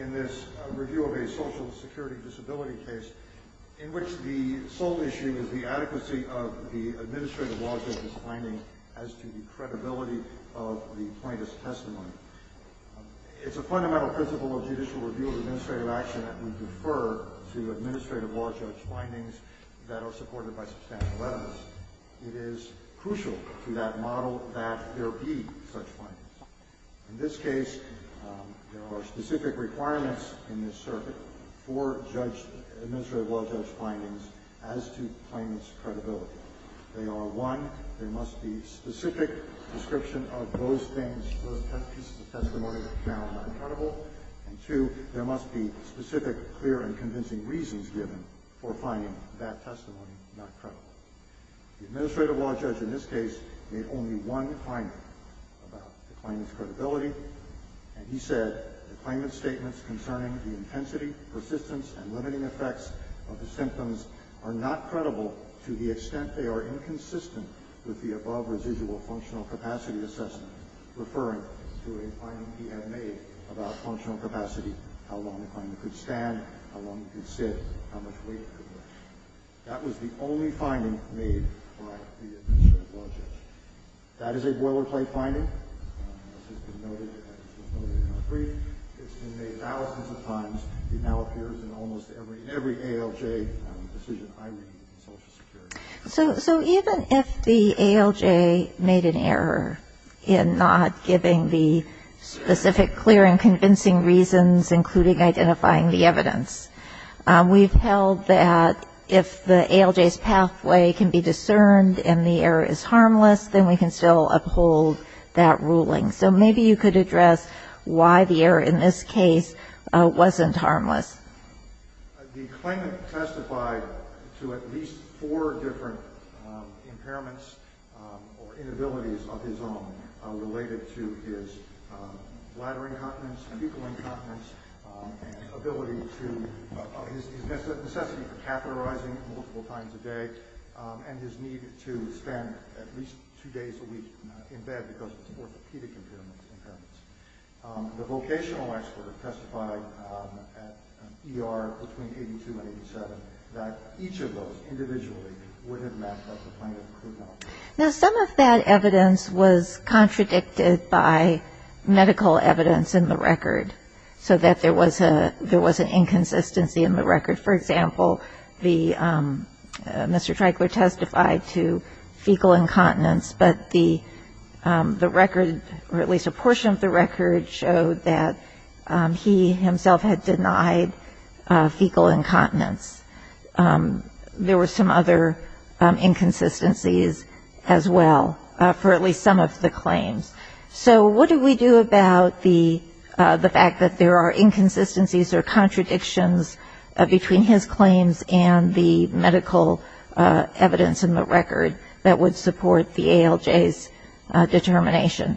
In this review of a social security disability case in which the sole issue is the adequacy of the administrative law judge's findings as to the credibility of the plaintiff's testimony. It's a fundamental principle of judicial review of administrative action that we defer to administrative law judge's findings that are supported by substantial evidence. It is crucial to that model that there be such findings. In this case, there are specific requirements in this circuit for administrative law judge's findings as to the plaintiff's credibility. They are, one, there must be specific description of those things, those pieces of testimony that are not credible. And two, there must be specific, clear, and convincing reasons given for finding that testimony not credible. The administrative law judge in this case made only one finding about the plaintiff's credibility. And he said the plaintiff's statements concerning the intensity, persistence, and limiting effects of the symptoms are not credible to the extent they are inconsistent with the above-residual functional capacity assessment, referring to a finding he had made about functional capacity, how long the client could stand, how long he could sit, how much weight he could lift. That was the only finding made by the administrative law judge. That is a boilerplate finding. This has been noted in our brief. It's been made thousands of times. It now appears in almost every ALJ decision I read in Social Security. So even if the ALJ made an error in not giving the specific, clear, and convincing reasons, including identifying the evidence, we've held that if the ALJ's pathway can be discerned and the error is harmless, then we can still uphold that ruling. So maybe you could address why the error in this case wasn't harmless. The claimant testified to at least four different impairments or inabilities of his own related to his bladder incontinence, pupil incontinence, his necessity for catheterizing multiple times a day, and his need to spend at least two days a week in bed because of his orthopedic impairments. The vocational expert testified at ER between 82 and 87 that each of those individually would have mapped out the claimant's crude malpractice. Now, some of that evidence was contradicted by medical evidence in the record, so that there was an inconsistency in the record. For example, Mr. Treigler testified to fecal incontinence. But the record, or at least a portion of the record, showed that he himself had denied fecal incontinence. There were some other inconsistencies as well for at least some of the claims. So what do we do about the fact that there are inconsistencies or contradictions between his claims and the medical evidence in the record that would support the ALJ's determination?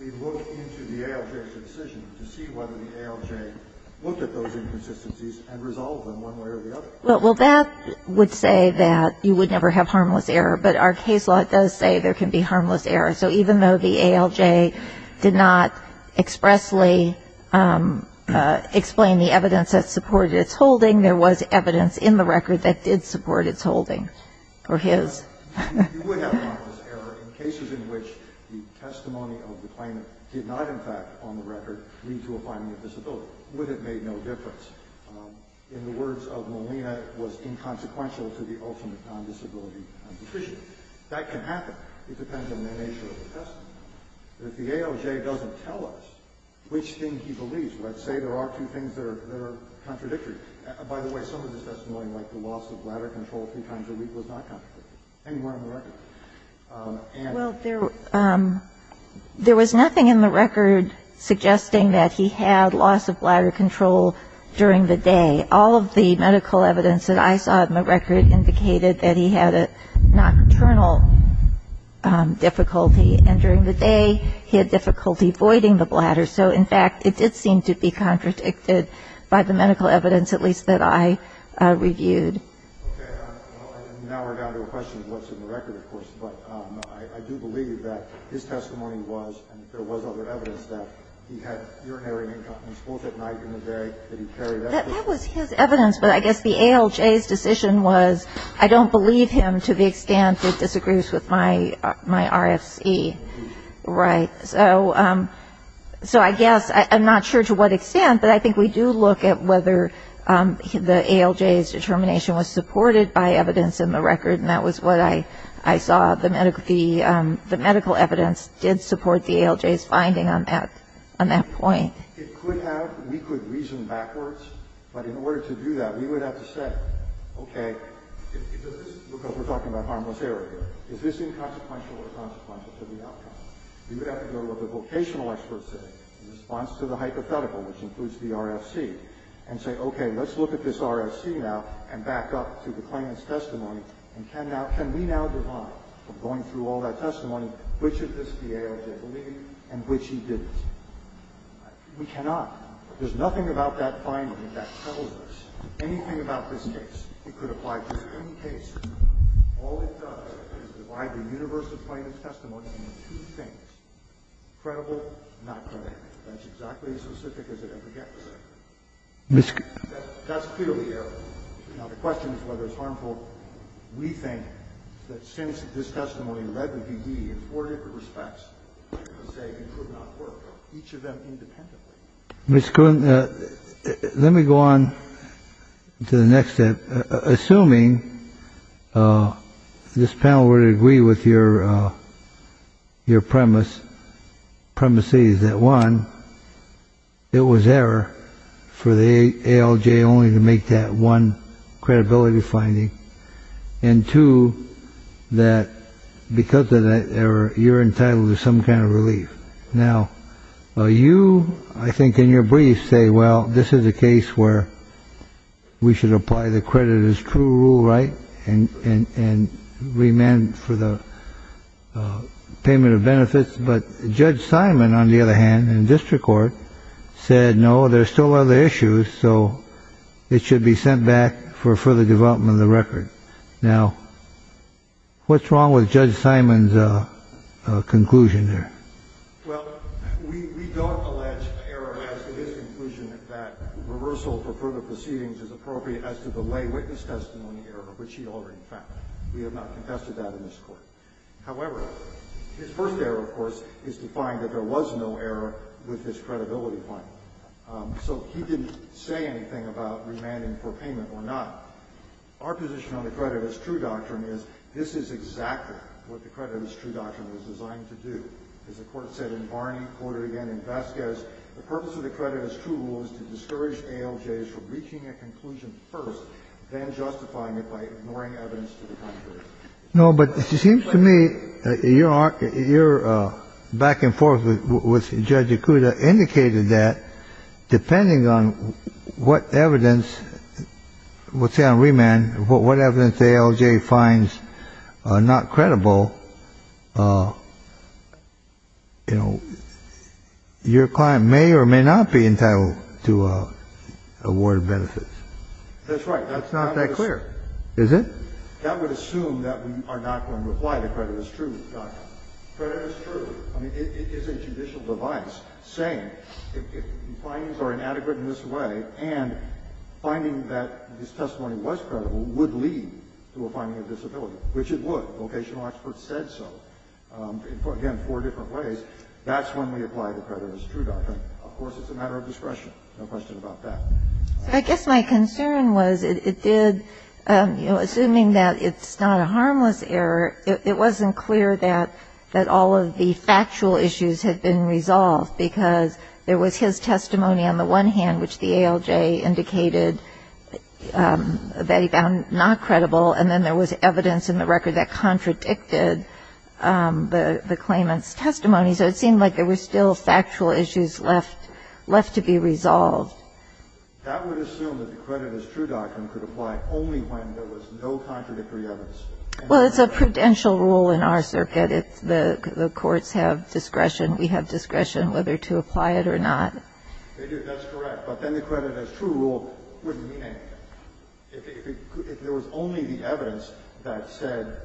We look into the ALJ's decision to see whether the ALJ looked at those inconsistencies and resolved them one way or the other. Well, that would say that you would never have harmless error, but our case law does say there can be harmless error. So even though the ALJ did not expressly explain the evidence that supported its holding, there was evidence in the record that did support its holding, or his. You would have harmless error in cases in which the testimony of the claimant did not, in fact, on the record, lead to a finding of disability, would have made no difference. In the words of Molina, it was inconsequential to the ultimate non-disability condition. That can happen. It depends on the nature of the testimony. If the ALJ doesn't tell us which thing he believes, let's say there are two things that are contradictory. By the way, some of the testimony, like the loss of bladder control three times a week, was not contradictory, anywhere in the record. And they're not contradictory. Well, there was nothing in the record suggesting that he had loss of bladder control during the day. All of the medical evidence that I saw in the record indicated that he had a nocturnal difficulty. And during the day, he had difficulty voiding the bladder. So, in fact, it did seem to be contradicted by the medical evidence, at least, that I reviewed. Okay. Now we're down to a question of what's in the record, of course. But I do believe that his testimony was, and there was other evidence, that he had urinary incontinence both at night and in the day. That was his evidence. But I guess the ALJ's decision was, I don't believe him to the extent it disagrees with my RFC. Right. So I guess, I'm not sure to what extent, but I think we do look at whether the ALJ's determination was supported by evidence in the record. And that was what I saw. The medical evidence did support the ALJ's finding on that point. It could have. We could reason backwards. But in order to do that, we would have to say, okay, because we're talking about harmless error here. Is this inconsequential or consequential to the outcome? We would have to go to what the vocational experts say in response to the hypothetical, which includes the RFC, and say, okay, let's look at this RFC now and back up to the claimant's testimony. And can we now divide, going through all that testimony, which of this the ALJ believed and which he didn't? We cannot. There's nothing about that finding that tells us anything about this case. It could apply to any case. All it does is divide the universe of claimant's testimony into two things, credible, not credible. That's exactly as specific as it ever gets. That's clearly error. Now, the question is whether it's harmful. We think that since this testimony led with the E in four different respects to say it could not work, each of them independently. Let me go on to the next step. Assuming this panel were to agree with your premise, premises that, one, it was error for the ALJ only to make that one credibility finding, and, two, that because of that error, you're entitled to some kind of relief. Now, you, I think, in your brief say, well, this is a case where we should apply the creditors' true rule, right, and remand for the payment of benefits. But Judge Simon, on the other hand, in district court, said, no, there's still other issues. So it should be sent back for further development of the record. Now, what's wrong with Judge Simon's conclusion there? Well, we don't allege error as to his conclusion that reversal for further proceedings is appropriate as to the lay witness testimony error, which he already found. We have not confessed to that in this Court. However, his first error, of course, is to find that there was no error with this credibility finding. So he didn't say anything about remanding for payment or not. Our position on the creditors' true doctrine is this is exactly what the creditors' true doctrine was designed to do. As the Court said in Barney, quoted again in Vasquez, the purpose of the creditors' true rule is to discourage ALJs from reaching a conclusion first, then justifying it by ignoring evidence to the contrary. No, but it seems to me your back and forth with Judge Ikuda indicated that, depending on what evidence, let's say on remand, what evidence ALJ finds not credible, you know, your client may or may not be entitled to award benefits. That's right. That's not that clear. Is it? That would assume that we are not going to apply the creditors' true doctrine. Creditors' true is a judicial device saying if findings are inadequate in this way and finding that this testimony was credible would lead to a finding of disability, which it would. Vocational experts said so. Again, four different ways. That's when we apply the creditors' true doctrine. Of course, it's a matter of discretion. No question about that. So I guess my concern was it did, you know, assuming that it's not a harmless error, it wasn't clear that all of the factual issues had been resolved because there was his testimony on the one hand, which the ALJ indicated that he found not credible, and then there was evidence in the record that contradicted the claimant's testimony. So it seemed like there were still factual issues left to be resolved. That would assume that the creditors' true doctrine could apply only when there was no contradictory evidence. Well, it's a prudential rule in our circuit. The courts have discretion. We have discretion whether to apply it or not. They do. That's correct. But then the creditors' true rule wouldn't mean anything. If there was only the evidence that said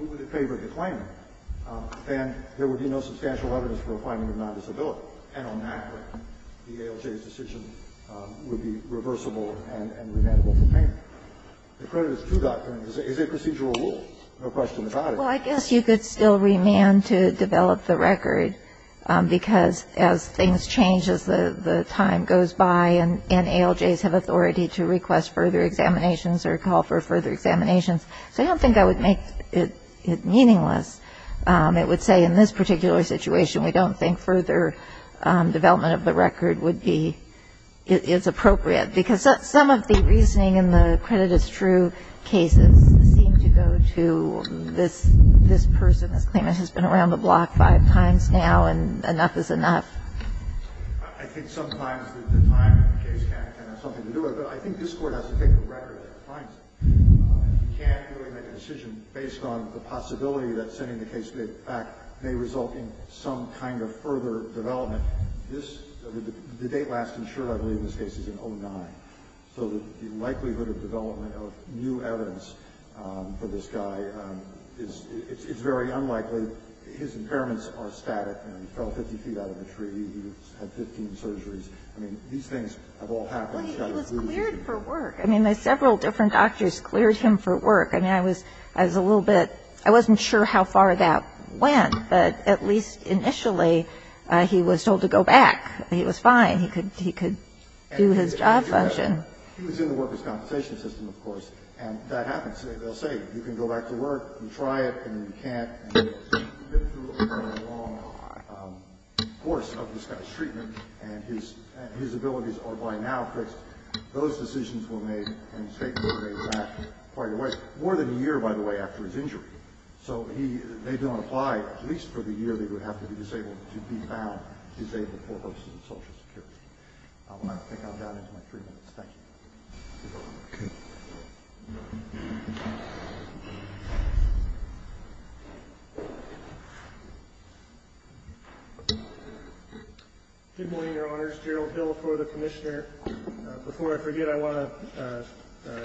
we would have favored the claimant, then there would be no substantial evidence for a finding of nondisability. And on that point, the ALJ's decision would be reversible and remandable for payment. The creditors' true doctrine is a procedural rule. No question about it. Well, I guess you could still remand to develop the record, because as things change, as the time goes by, and ALJs have authority to request further examinations or call for further examinations. So I don't think that would make it meaningless. It would say in this particular situation, we don't think further development of the record would be as appropriate. Because some of the reasoning in the creditors' true cases seem to go to this person. This claimant has been around the block five times now, and enough is enough. I think sometimes the time in the case can have something to do with it. But I think this Court has to take the record that finds it. You can't really make a decision based on the possibility that sending the case back may result in some kind of further development. The date last insured, I believe, in this case is in 2009. So the likelihood of development of new evidence for this guy is very unlikely. His impairments are static. He fell 50 feet out of a tree. He's had 15 surgeries. I mean, these things have all happened. Well, he was cleared for work. I mean, several different doctors cleared him for work. I mean, I was a little bit – I wasn't sure how far that went, but at least initially he was told to go back. He was fine. He could do his job function. He was in the workers' compensation system, of course, and that happens. They'll say, you can go back to work. You try it, and you can't. And he's been through a fairly long course of this guy's treatment, and his abilities are by now fixed. Those decisions were made, and his statement was made back quite a ways. More than a year, by the way, after his injury. So they don't apply, at least for the year they would have to be disabled, to be found disabled for hosting social security. I'm going to have to take that down into my three minutes. Thank you. Good morning, Your Honors. Gerald Hill for the commissioner. Before I forget, I want to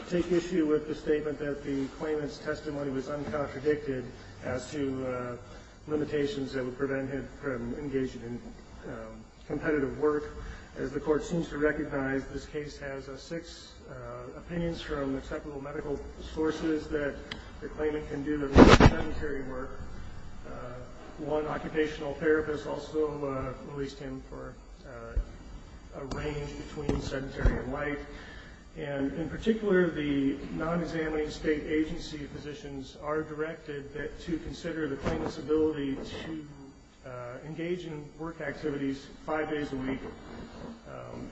take issue with the statement that the claimant's testimony was uncontradicted as to limitations that would prevent him from engaging in competitive work. As the court seems to recognize, this case has six opinions from acceptable medical sources that the claimant can do a lot of sedentary work. One occupational therapist also released him for a range between sedentary and light. And in particular, the non-examining state agency physicians are directed to consider the claimant's ability to engage in work activities five days a week,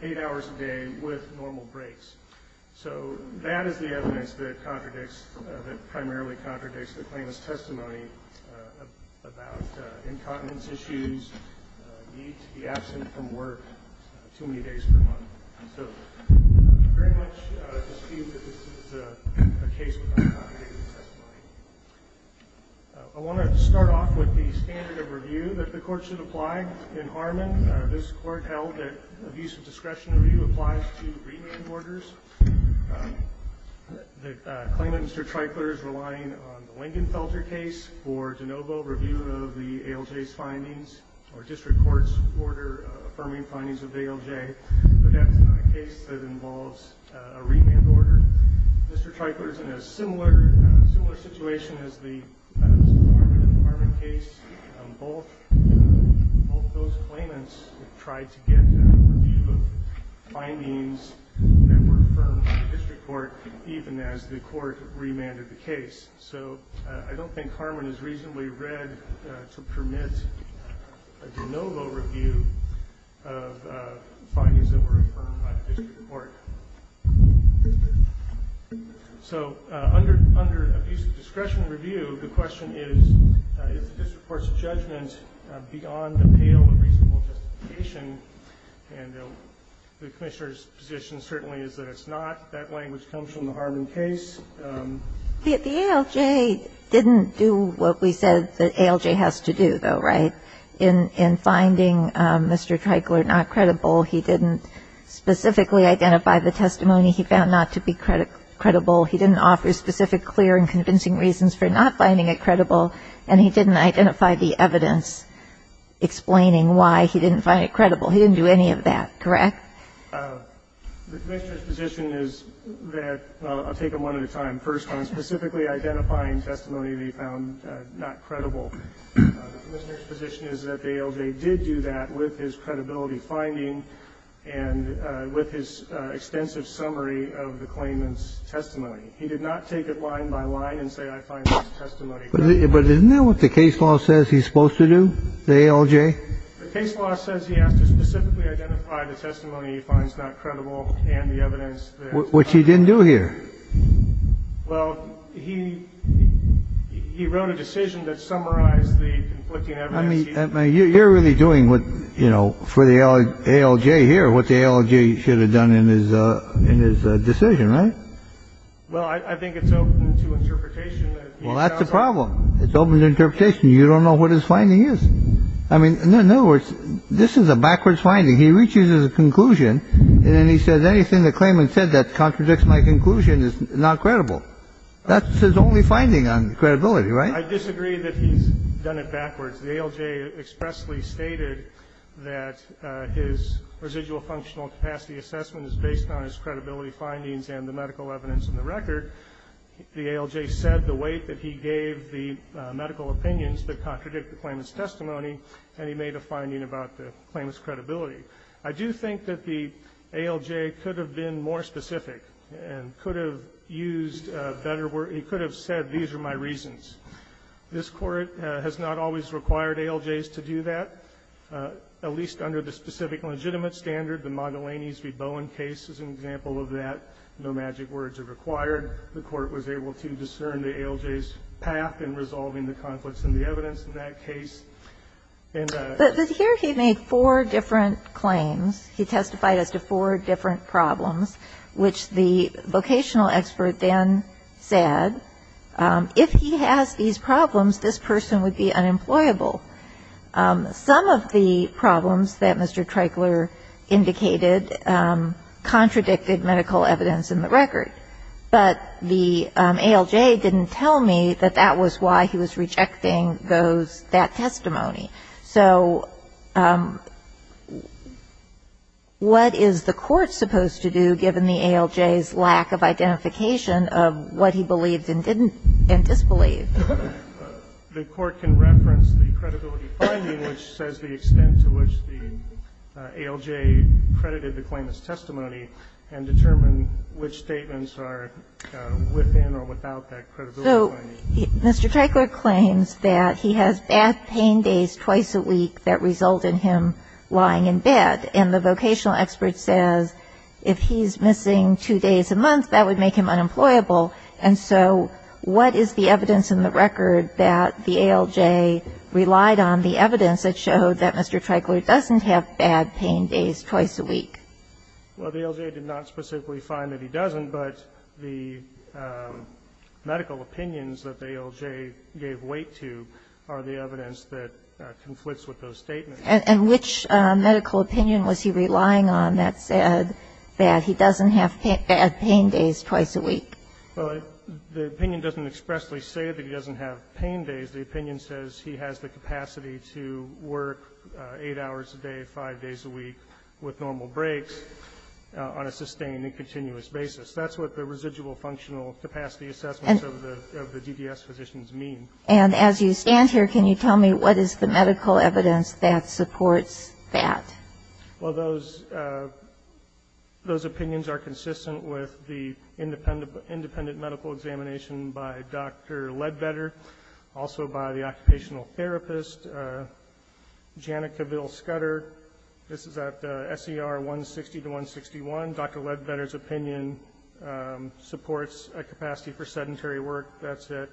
eight hours a day with normal breaks. So that is the evidence that primarily contradicts the claimant's testimony about incontinence issues, the need to be absent from work too many days per month. So I very much dispute that this is a case with uncontradicted testimony. I want to start off with the standard of review that the court should apply in Harmon. This court held that abuse of discretion review applies to remand orders. The claimant, Mr. Treichler, is relying on the Lingenfelter case for de novo review of the ALJ's findings. Or district court's order affirming findings of ALJ. But that's not a case that involves a remand order. Mr. Treichler is in a similar situation as Mr. Harmon in the Harmon case. Both those claimants tried to get a review of findings that were affirmed by the district court, so I don't think Harmon is reasonably read to permit a de novo review of findings that were affirmed by the district court. So under abuse of discretion review, the question is, is the district court's judgment beyond the pale of reasonable justification? And the commissioner's position certainly is that it's not. That language comes from the Harmon case. The ALJ didn't do what we said the ALJ has to do, though, right? In finding Mr. Treichler not credible, he didn't specifically identify the testimony he found not to be credible. He didn't offer specific clear and convincing reasons for not finding it credible, and he didn't identify the evidence explaining why he didn't find it credible. He didn't do any of that, correct? The commissioner's position is that, well, I'll take them one at a time. First, on specifically identifying testimony that he found not credible, the commissioner's position is that the ALJ did do that with his credibility finding and with his extensive summary of the claimant's testimony. He did not take it line by line and say, I find this testimony credible. But isn't that what the case law says he's supposed to do, the ALJ? The case law says he has to specifically identify the testimony he finds not credible and the evidence. Which he didn't do here. Well, he wrote a decision that summarized the conflicting evidence. You're really doing what, you know, for the ALJ here, what the ALJ should have done in his decision, right? Well, I think it's open to interpretation. Well, that's the problem. It's open to interpretation. You don't know what his finding is. I mean, in other words, this is a backwards finding. He reaches his conclusion, and then he says anything the claimant said that contradicts my conclusion is not credible. That's his only finding on credibility, right? I disagree that he's done it backwards. The ALJ expressly stated that his residual functional capacity assessment is based on his credibility findings and the medical evidence in the record. The ALJ said the weight that he gave the medical opinions that contradict the claimant's testimony, and he made a finding about the claimant's credibility. I do think that the ALJ could have been more specific and could have used better words. He could have said, these are my reasons. This Court has not always required ALJs to do that, at least under the specific legitimate standard. The Magellanes v. Bowen case is an example of that. No magic words are required. The Court was able to discern the ALJ's path in resolving the conflicts in the evidence in that case. And the ---- But here he made four different claims. He testified as to four different problems, which the vocational expert then said, if he has these problems, this person would be unemployable. Some of the problems that Mr. Treichler indicated contradicted medical evidence in the record. But the ALJ didn't tell me that that was why he was rejecting those ---- that testimony. So what is the Court supposed to do, given the ALJ's lack of identification of what he believed and didn't and disbelieved? The Court can reference the credibility finding, which says the extent to which the ALJ credited the claimant's testimony and determine which statements are within or without that credibility finding. So Mr. Treichler claims that he has bad pain days twice a week that result in him lying in bed. And the vocational expert says if he's missing two days a month, that would make him unemployable. And so what is the evidence in the record that the ALJ relied on, the evidence that showed that Mr. Treichler doesn't have bad pain days twice a week? Well, the ALJ did not specifically find that he doesn't, but the medical opinions that the ALJ gave weight to are the evidence that conflicts with those statements. And which medical opinion was he relying on that said that he doesn't have bad pain days twice a week? Well, the opinion doesn't expressly say that he doesn't have pain days. The opinion says he has the capacity to work eight hours a day, five days a week with normal breaks on a sustained and continuous basis. That's what the residual functional capacity assessments of the DDS physicians mean. And as you stand here, can you tell me what is the medical evidence that supports that? Well, those opinions are consistent with the independent medical examination by Dr. Ledbetter, also by the occupational therapist, Janica Ville-Scutter. This is at SER 160 to 161. Dr. Ledbetter's opinion supports a capacity for sedentary work. That's at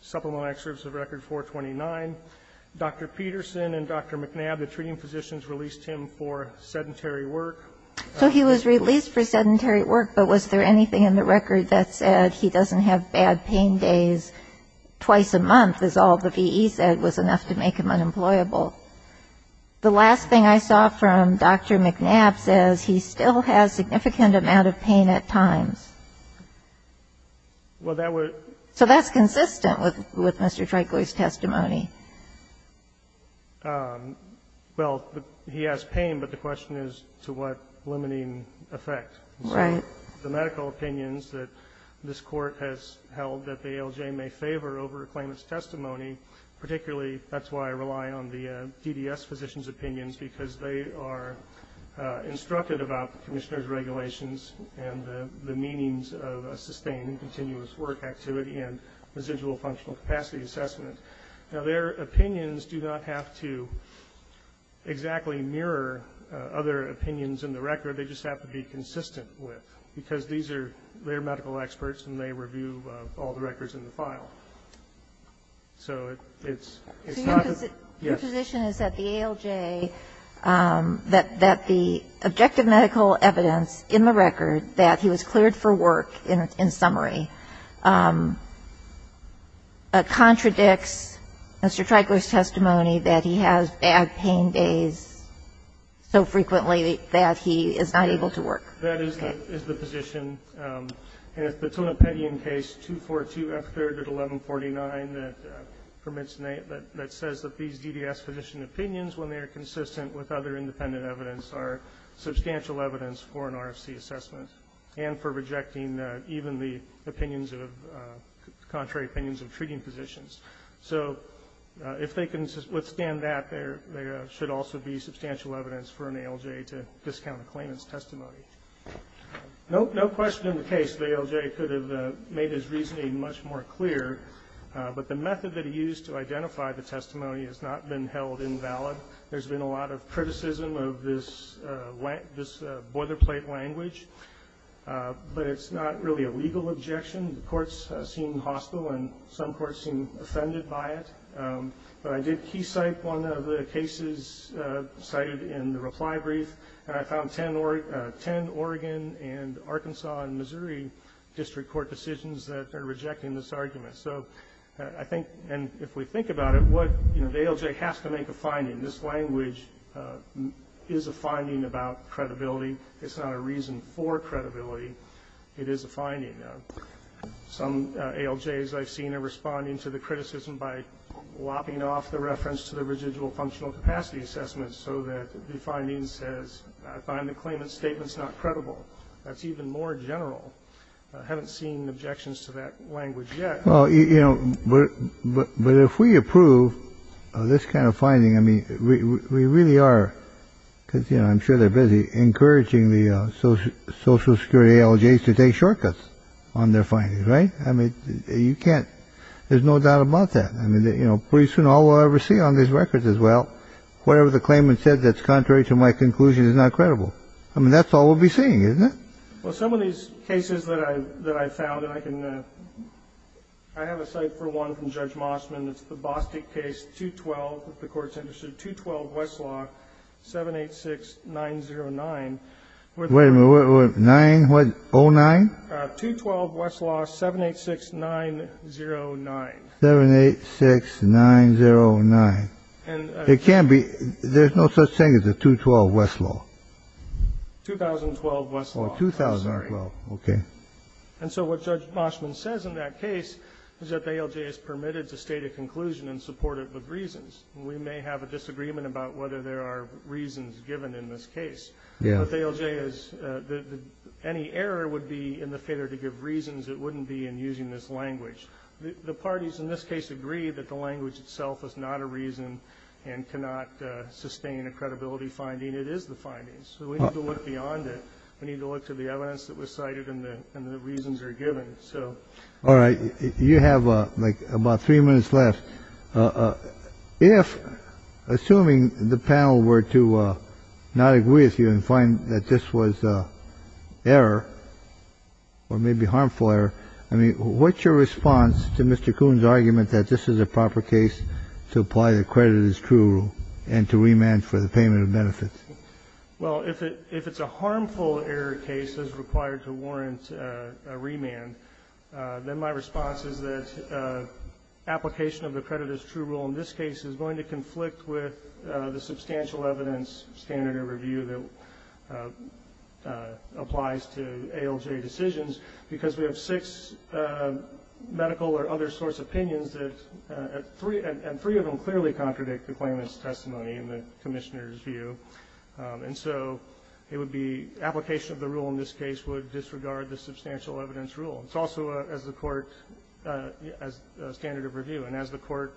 Supplemental Excerpts of Record 429. Dr. Peterson and Dr. McNabb, the treating physicians, released him for sedentary work. So he was released for sedentary work, but was there anything in the record that said he doesn't have bad pain days twice a month, as all the V.E. said was enough to make him unemployable? The last thing I saw from Dr. McNabb says he still has significant amount of pain at times. So that's consistent with Mr. Treichler's testimony. Well, he has pain, but the question is to what limiting effect. Right. The medical opinions that this court has held that the ALJ may favor over a claimant's testimony, particularly that's why I rely on the DDS physicians' opinions, because they are instructed about the commissioner's regulations and the meanings of a sustained and continuous work activity and residual functional capacity assessment. Now, their opinions do not have to exactly mirror other opinions in the record. They just have to be consistent with, because these are their medical experts and they review all the records in the file. So it's not a yes. So your position is that the ALJ, that the objective medical evidence in the record that he was cleared for work in summary contradicts Mr. Treichler's testimony that he has bad pain days so frequently that he is not able to work? That is the position. And it's the Tonopetian case 242F3 at 1149 that says that these DDS physician opinions, when they are consistent with other independent evidence, are substantial evidence for an RFC assessment and for rejecting even the contrary opinions of treating physicians. So if they can withstand that, there should also be substantial evidence for an ALJ to discount a claimant's testimony. No question in the case the ALJ could have made his reasoning much more clear, but the method that he used to identify the testimony has not been held invalid. There's been a lot of criticism of this boilerplate language, but it's not really a legal objection. The courts seem hostile and some courts seem offended by it. But I did key cite one of the cases cited in the reply brief, and I found 10 Oregon and Arkansas and Missouri district court decisions that are rejecting this argument. So I think if we think about it, the ALJ has to make a finding. This language is a finding about credibility. It's not a reason for credibility. It is a finding. Some ALJs I've seen are responding to the criticism by lopping off the reference to the residual functional capacity assessment so that the finding says, I find the claimant's statement's not credible. That's even more general. I haven't seen objections to that language yet. Well, you know, but if we approve this kind of finding, I mean, we really are, because, you know, I'm sure they're busy, encouraging the Social Security ALJs to take shortcuts on their findings, right? I mean, you can't ‑‑ there's no doubt about that. I mean, you know, pretty soon all we'll ever see on these records is, well, whatever the claimant said that's contrary to my conclusion is not credible. I mean, that's all we'll be seeing, isn't it? Well, some of these cases that I've found, and I can ‑‑ I have a cite for one from Judge Mossman. It's the Bostick case, 212, if the Court's interested, 212 Westlaw, 786909. Wait a minute. 9 what? 09? 212 Westlaw, 786909. 786909. It can't be. There's no such thing as a 212 Westlaw. 2012 Westlaw. Oh, 2012. I'm sorry. Okay. And so what Judge Mossman says in that case is that the ALJ is permitted to state a conclusion in support of the reasons. We may have a disagreement about whether there are reasons given in this case. Yeah. But the ALJ is ‑‑ any error would be in the failure to give reasons that wouldn't be in using this language. The parties in this case agree that the language itself is not a reason and cannot sustain a credibility finding. It is the findings. So we need to look beyond it. We need to look to the evidence that was cited and the reasons are given. All right. You have, like, about three minutes left. If, assuming the panel were to not agree with you and find that this was error or maybe harmful error, I mean, what's your response to Mr. Kuhn's argument that this is a proper case to apply the credit as true and to remand for the payment of benefits? Well, if it's a harmful error case that's required to warrant a remand, then my response is that application of the credit as true rule in this case is going to conflict with the substantial evidence standard or review that applies to ALJ decisions because we have six medical or other source opinions and three of them clearly contradict the claimant's testimony and the commissioner's view. And so it would be application of the rule in this case would disregard the substantial evidence rule. It's also, as the Court, a standard of review. And as the Court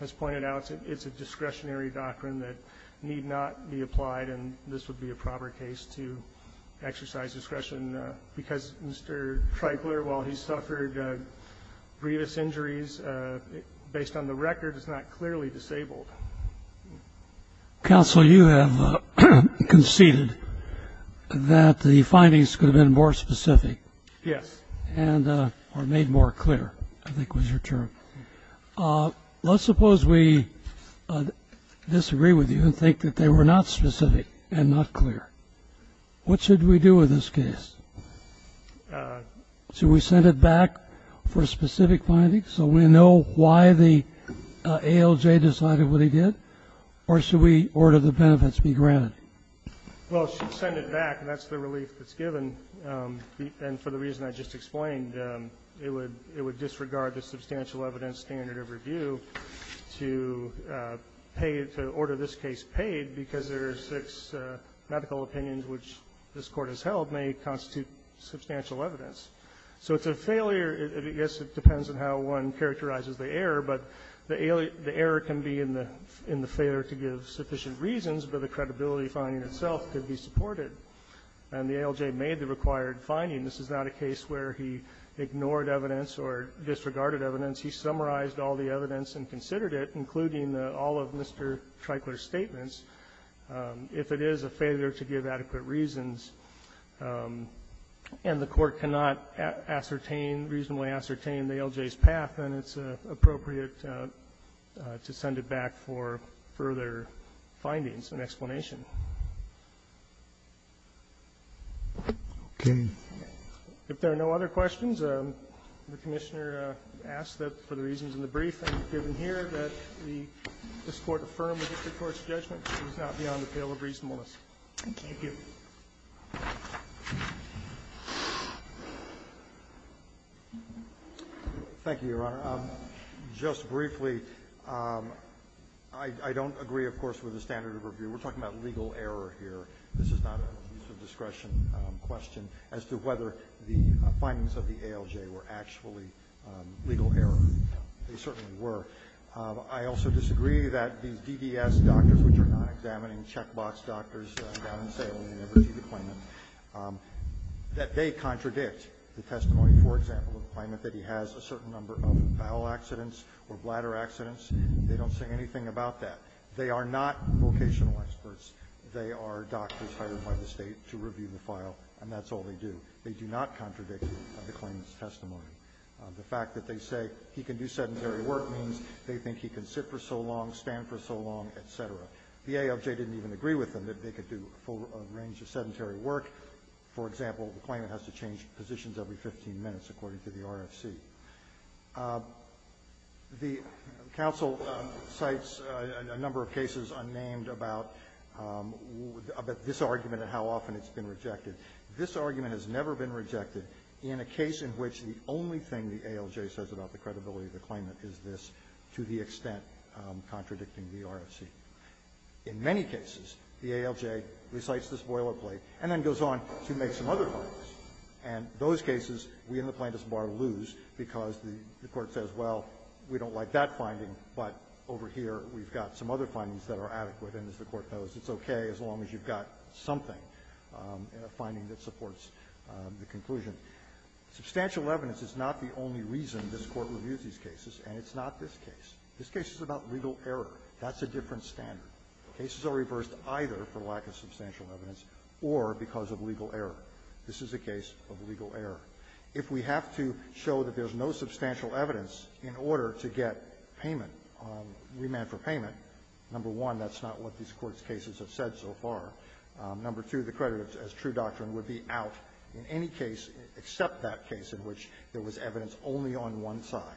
has pointed out, it's a discretionary doctrine that need not be applied, and this would be a proper case to exercise discretion because Mr. Treitler, while he suffered grievous injuries, based on the record is not clearly disabled. Counsel, you have conceded that the findings could have been more specific. Yes. Or made more clear, I think was your term. Let's suppose we disagree with you and think that they were not specific and not clear. What should we do with this case? Should we send it back for specific findings so we know why the ALJ decided what he did, or should we order the benefits be granted? Well, send it back, and that's the relief that's given. And for the reason I just explained, it would disregard the substantial evidence standard of review to order this case paid because there are six medical opinions which this Court has held may constitute substantial evidence. So it's a failure. I guess it depends on how one characterizes the error, but the error can be in the failure to give sufficient reasons, but the credibility finding itself could be supported. And the ALJ made the required finding. This is not a case where he ignored evidence or disregarded evidence. He summarized all the evidence and considered it, including all of Mr. Treitler's statements, if it is a failure to give adequate reasons. And the Court cannot ascertain, reasonably ascertain the ALJ's path, then it's appropriate to send it back for further findings and explanation. Okay. If there are no other questions, the Commissioner asks that for the reasons in the brief and given here, that this Court affirm that the Court's judgment is not beyond the pale of reasonableness. Thank you. Thank you, Your Honor. Just briefly, I don't agree, of course, with the standard of review. We're talking about legal error here. This is not a use of discretion question as to whether the findings of the ALJ were actually legal error. They certainly were. I also disagree that these DDS doctors, which are non-examining checkbox doctors down in Salem who never see the claimant, that they contradict the testimony, for example, of the claimant that he has a certain number of bowel accidents or bladder accidents. They don't say anything about that. They are not vocational experts. They are doctors hired by the State to review the file, and that's all they do. They do not contradict the claimant's testimony. The fact that they say he can do sedentary work means they think he can sit for so long, stand for so long, et cetera. The ALJ didn't even agree with them that they could do a full range of sedentary work. For example, the claimant has to change positions every 15 minutes, according to the RFC. The counsel cites a number of cases unnamed about this argument and how often it's been rejected. This argument has never been rejected in a case in which the only thing the ALJ says about the credibility of the claimant is this, to the extent contradicting the RFC. In many cases, the ALJ recites this boilerplate and then goes on to make some other findings, and those cases we in the Plaintiff's Bar lose because the Court says, well, we don't like that finding, but over here we've got some other findings that are adequate, and as the Court knows, it's okay as long as you've got something in a finding that supports the conclusion. Substantial evidence is not the only reason this Court reviews these cases, and it's not this case. This case is about legal error. That's a different standard. Cases are reversed either for lack of substantial evidence or because of legal error. This is a case of legal error. If we have to show that there's no substantial evidence in order to get payment or to remand for payment, number one, that's not what these Court's cases have said so far. Number two, the creditor, as true doctrine, would be out in any case except that case in which there was evidence only on one side,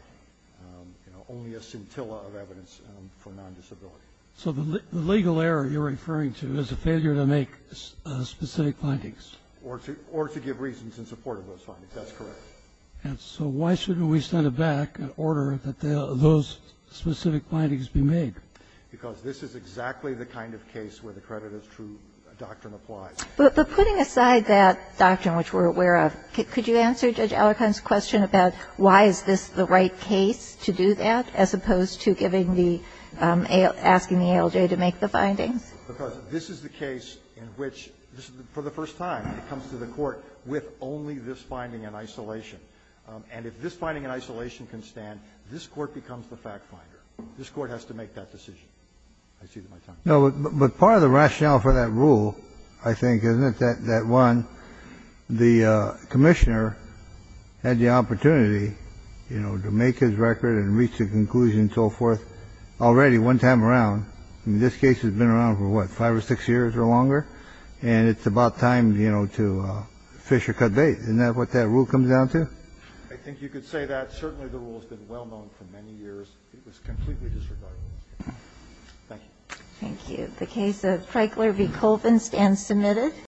you know, only a scintilla of evidence for nondisability. So the legal error you're referring to is a failure to make specific findings. Or to give reasons in support of those findings. That's correct. And so why shouldn't we send it back in order that those specific findings be made? Because this is exactly the kind of case where the creditor's true doctrine applies. But putting aside that doctrine, which we're aware of, could you answer Judge Allerkind's question about why is this the right case to do that as opposed to giving the ALJ to make the findings? Because this is the case in which, for the first time, it comes to the Court with only this finding in isolation. And if this finding in isolation can stand, this Court becomes the fact finder. This Court has to make that decision. I see that my time is up. No, but part of the rationale for that rule, I think, isn't it, that one, the Commissioner had the opportunity, you know, to make his record and reach a conclusion and so forth already one time around. I mean, this case has been around for, what, five or six years or longer? And it's about time, you know, to fish or cut bait. Isn't that what that rule comes down to? I think you could say that. Certainly, the rule has been well known for many years. It was completely disregarded. Thank you. Thank you. The case of Freichler v. Colvin stands submitted.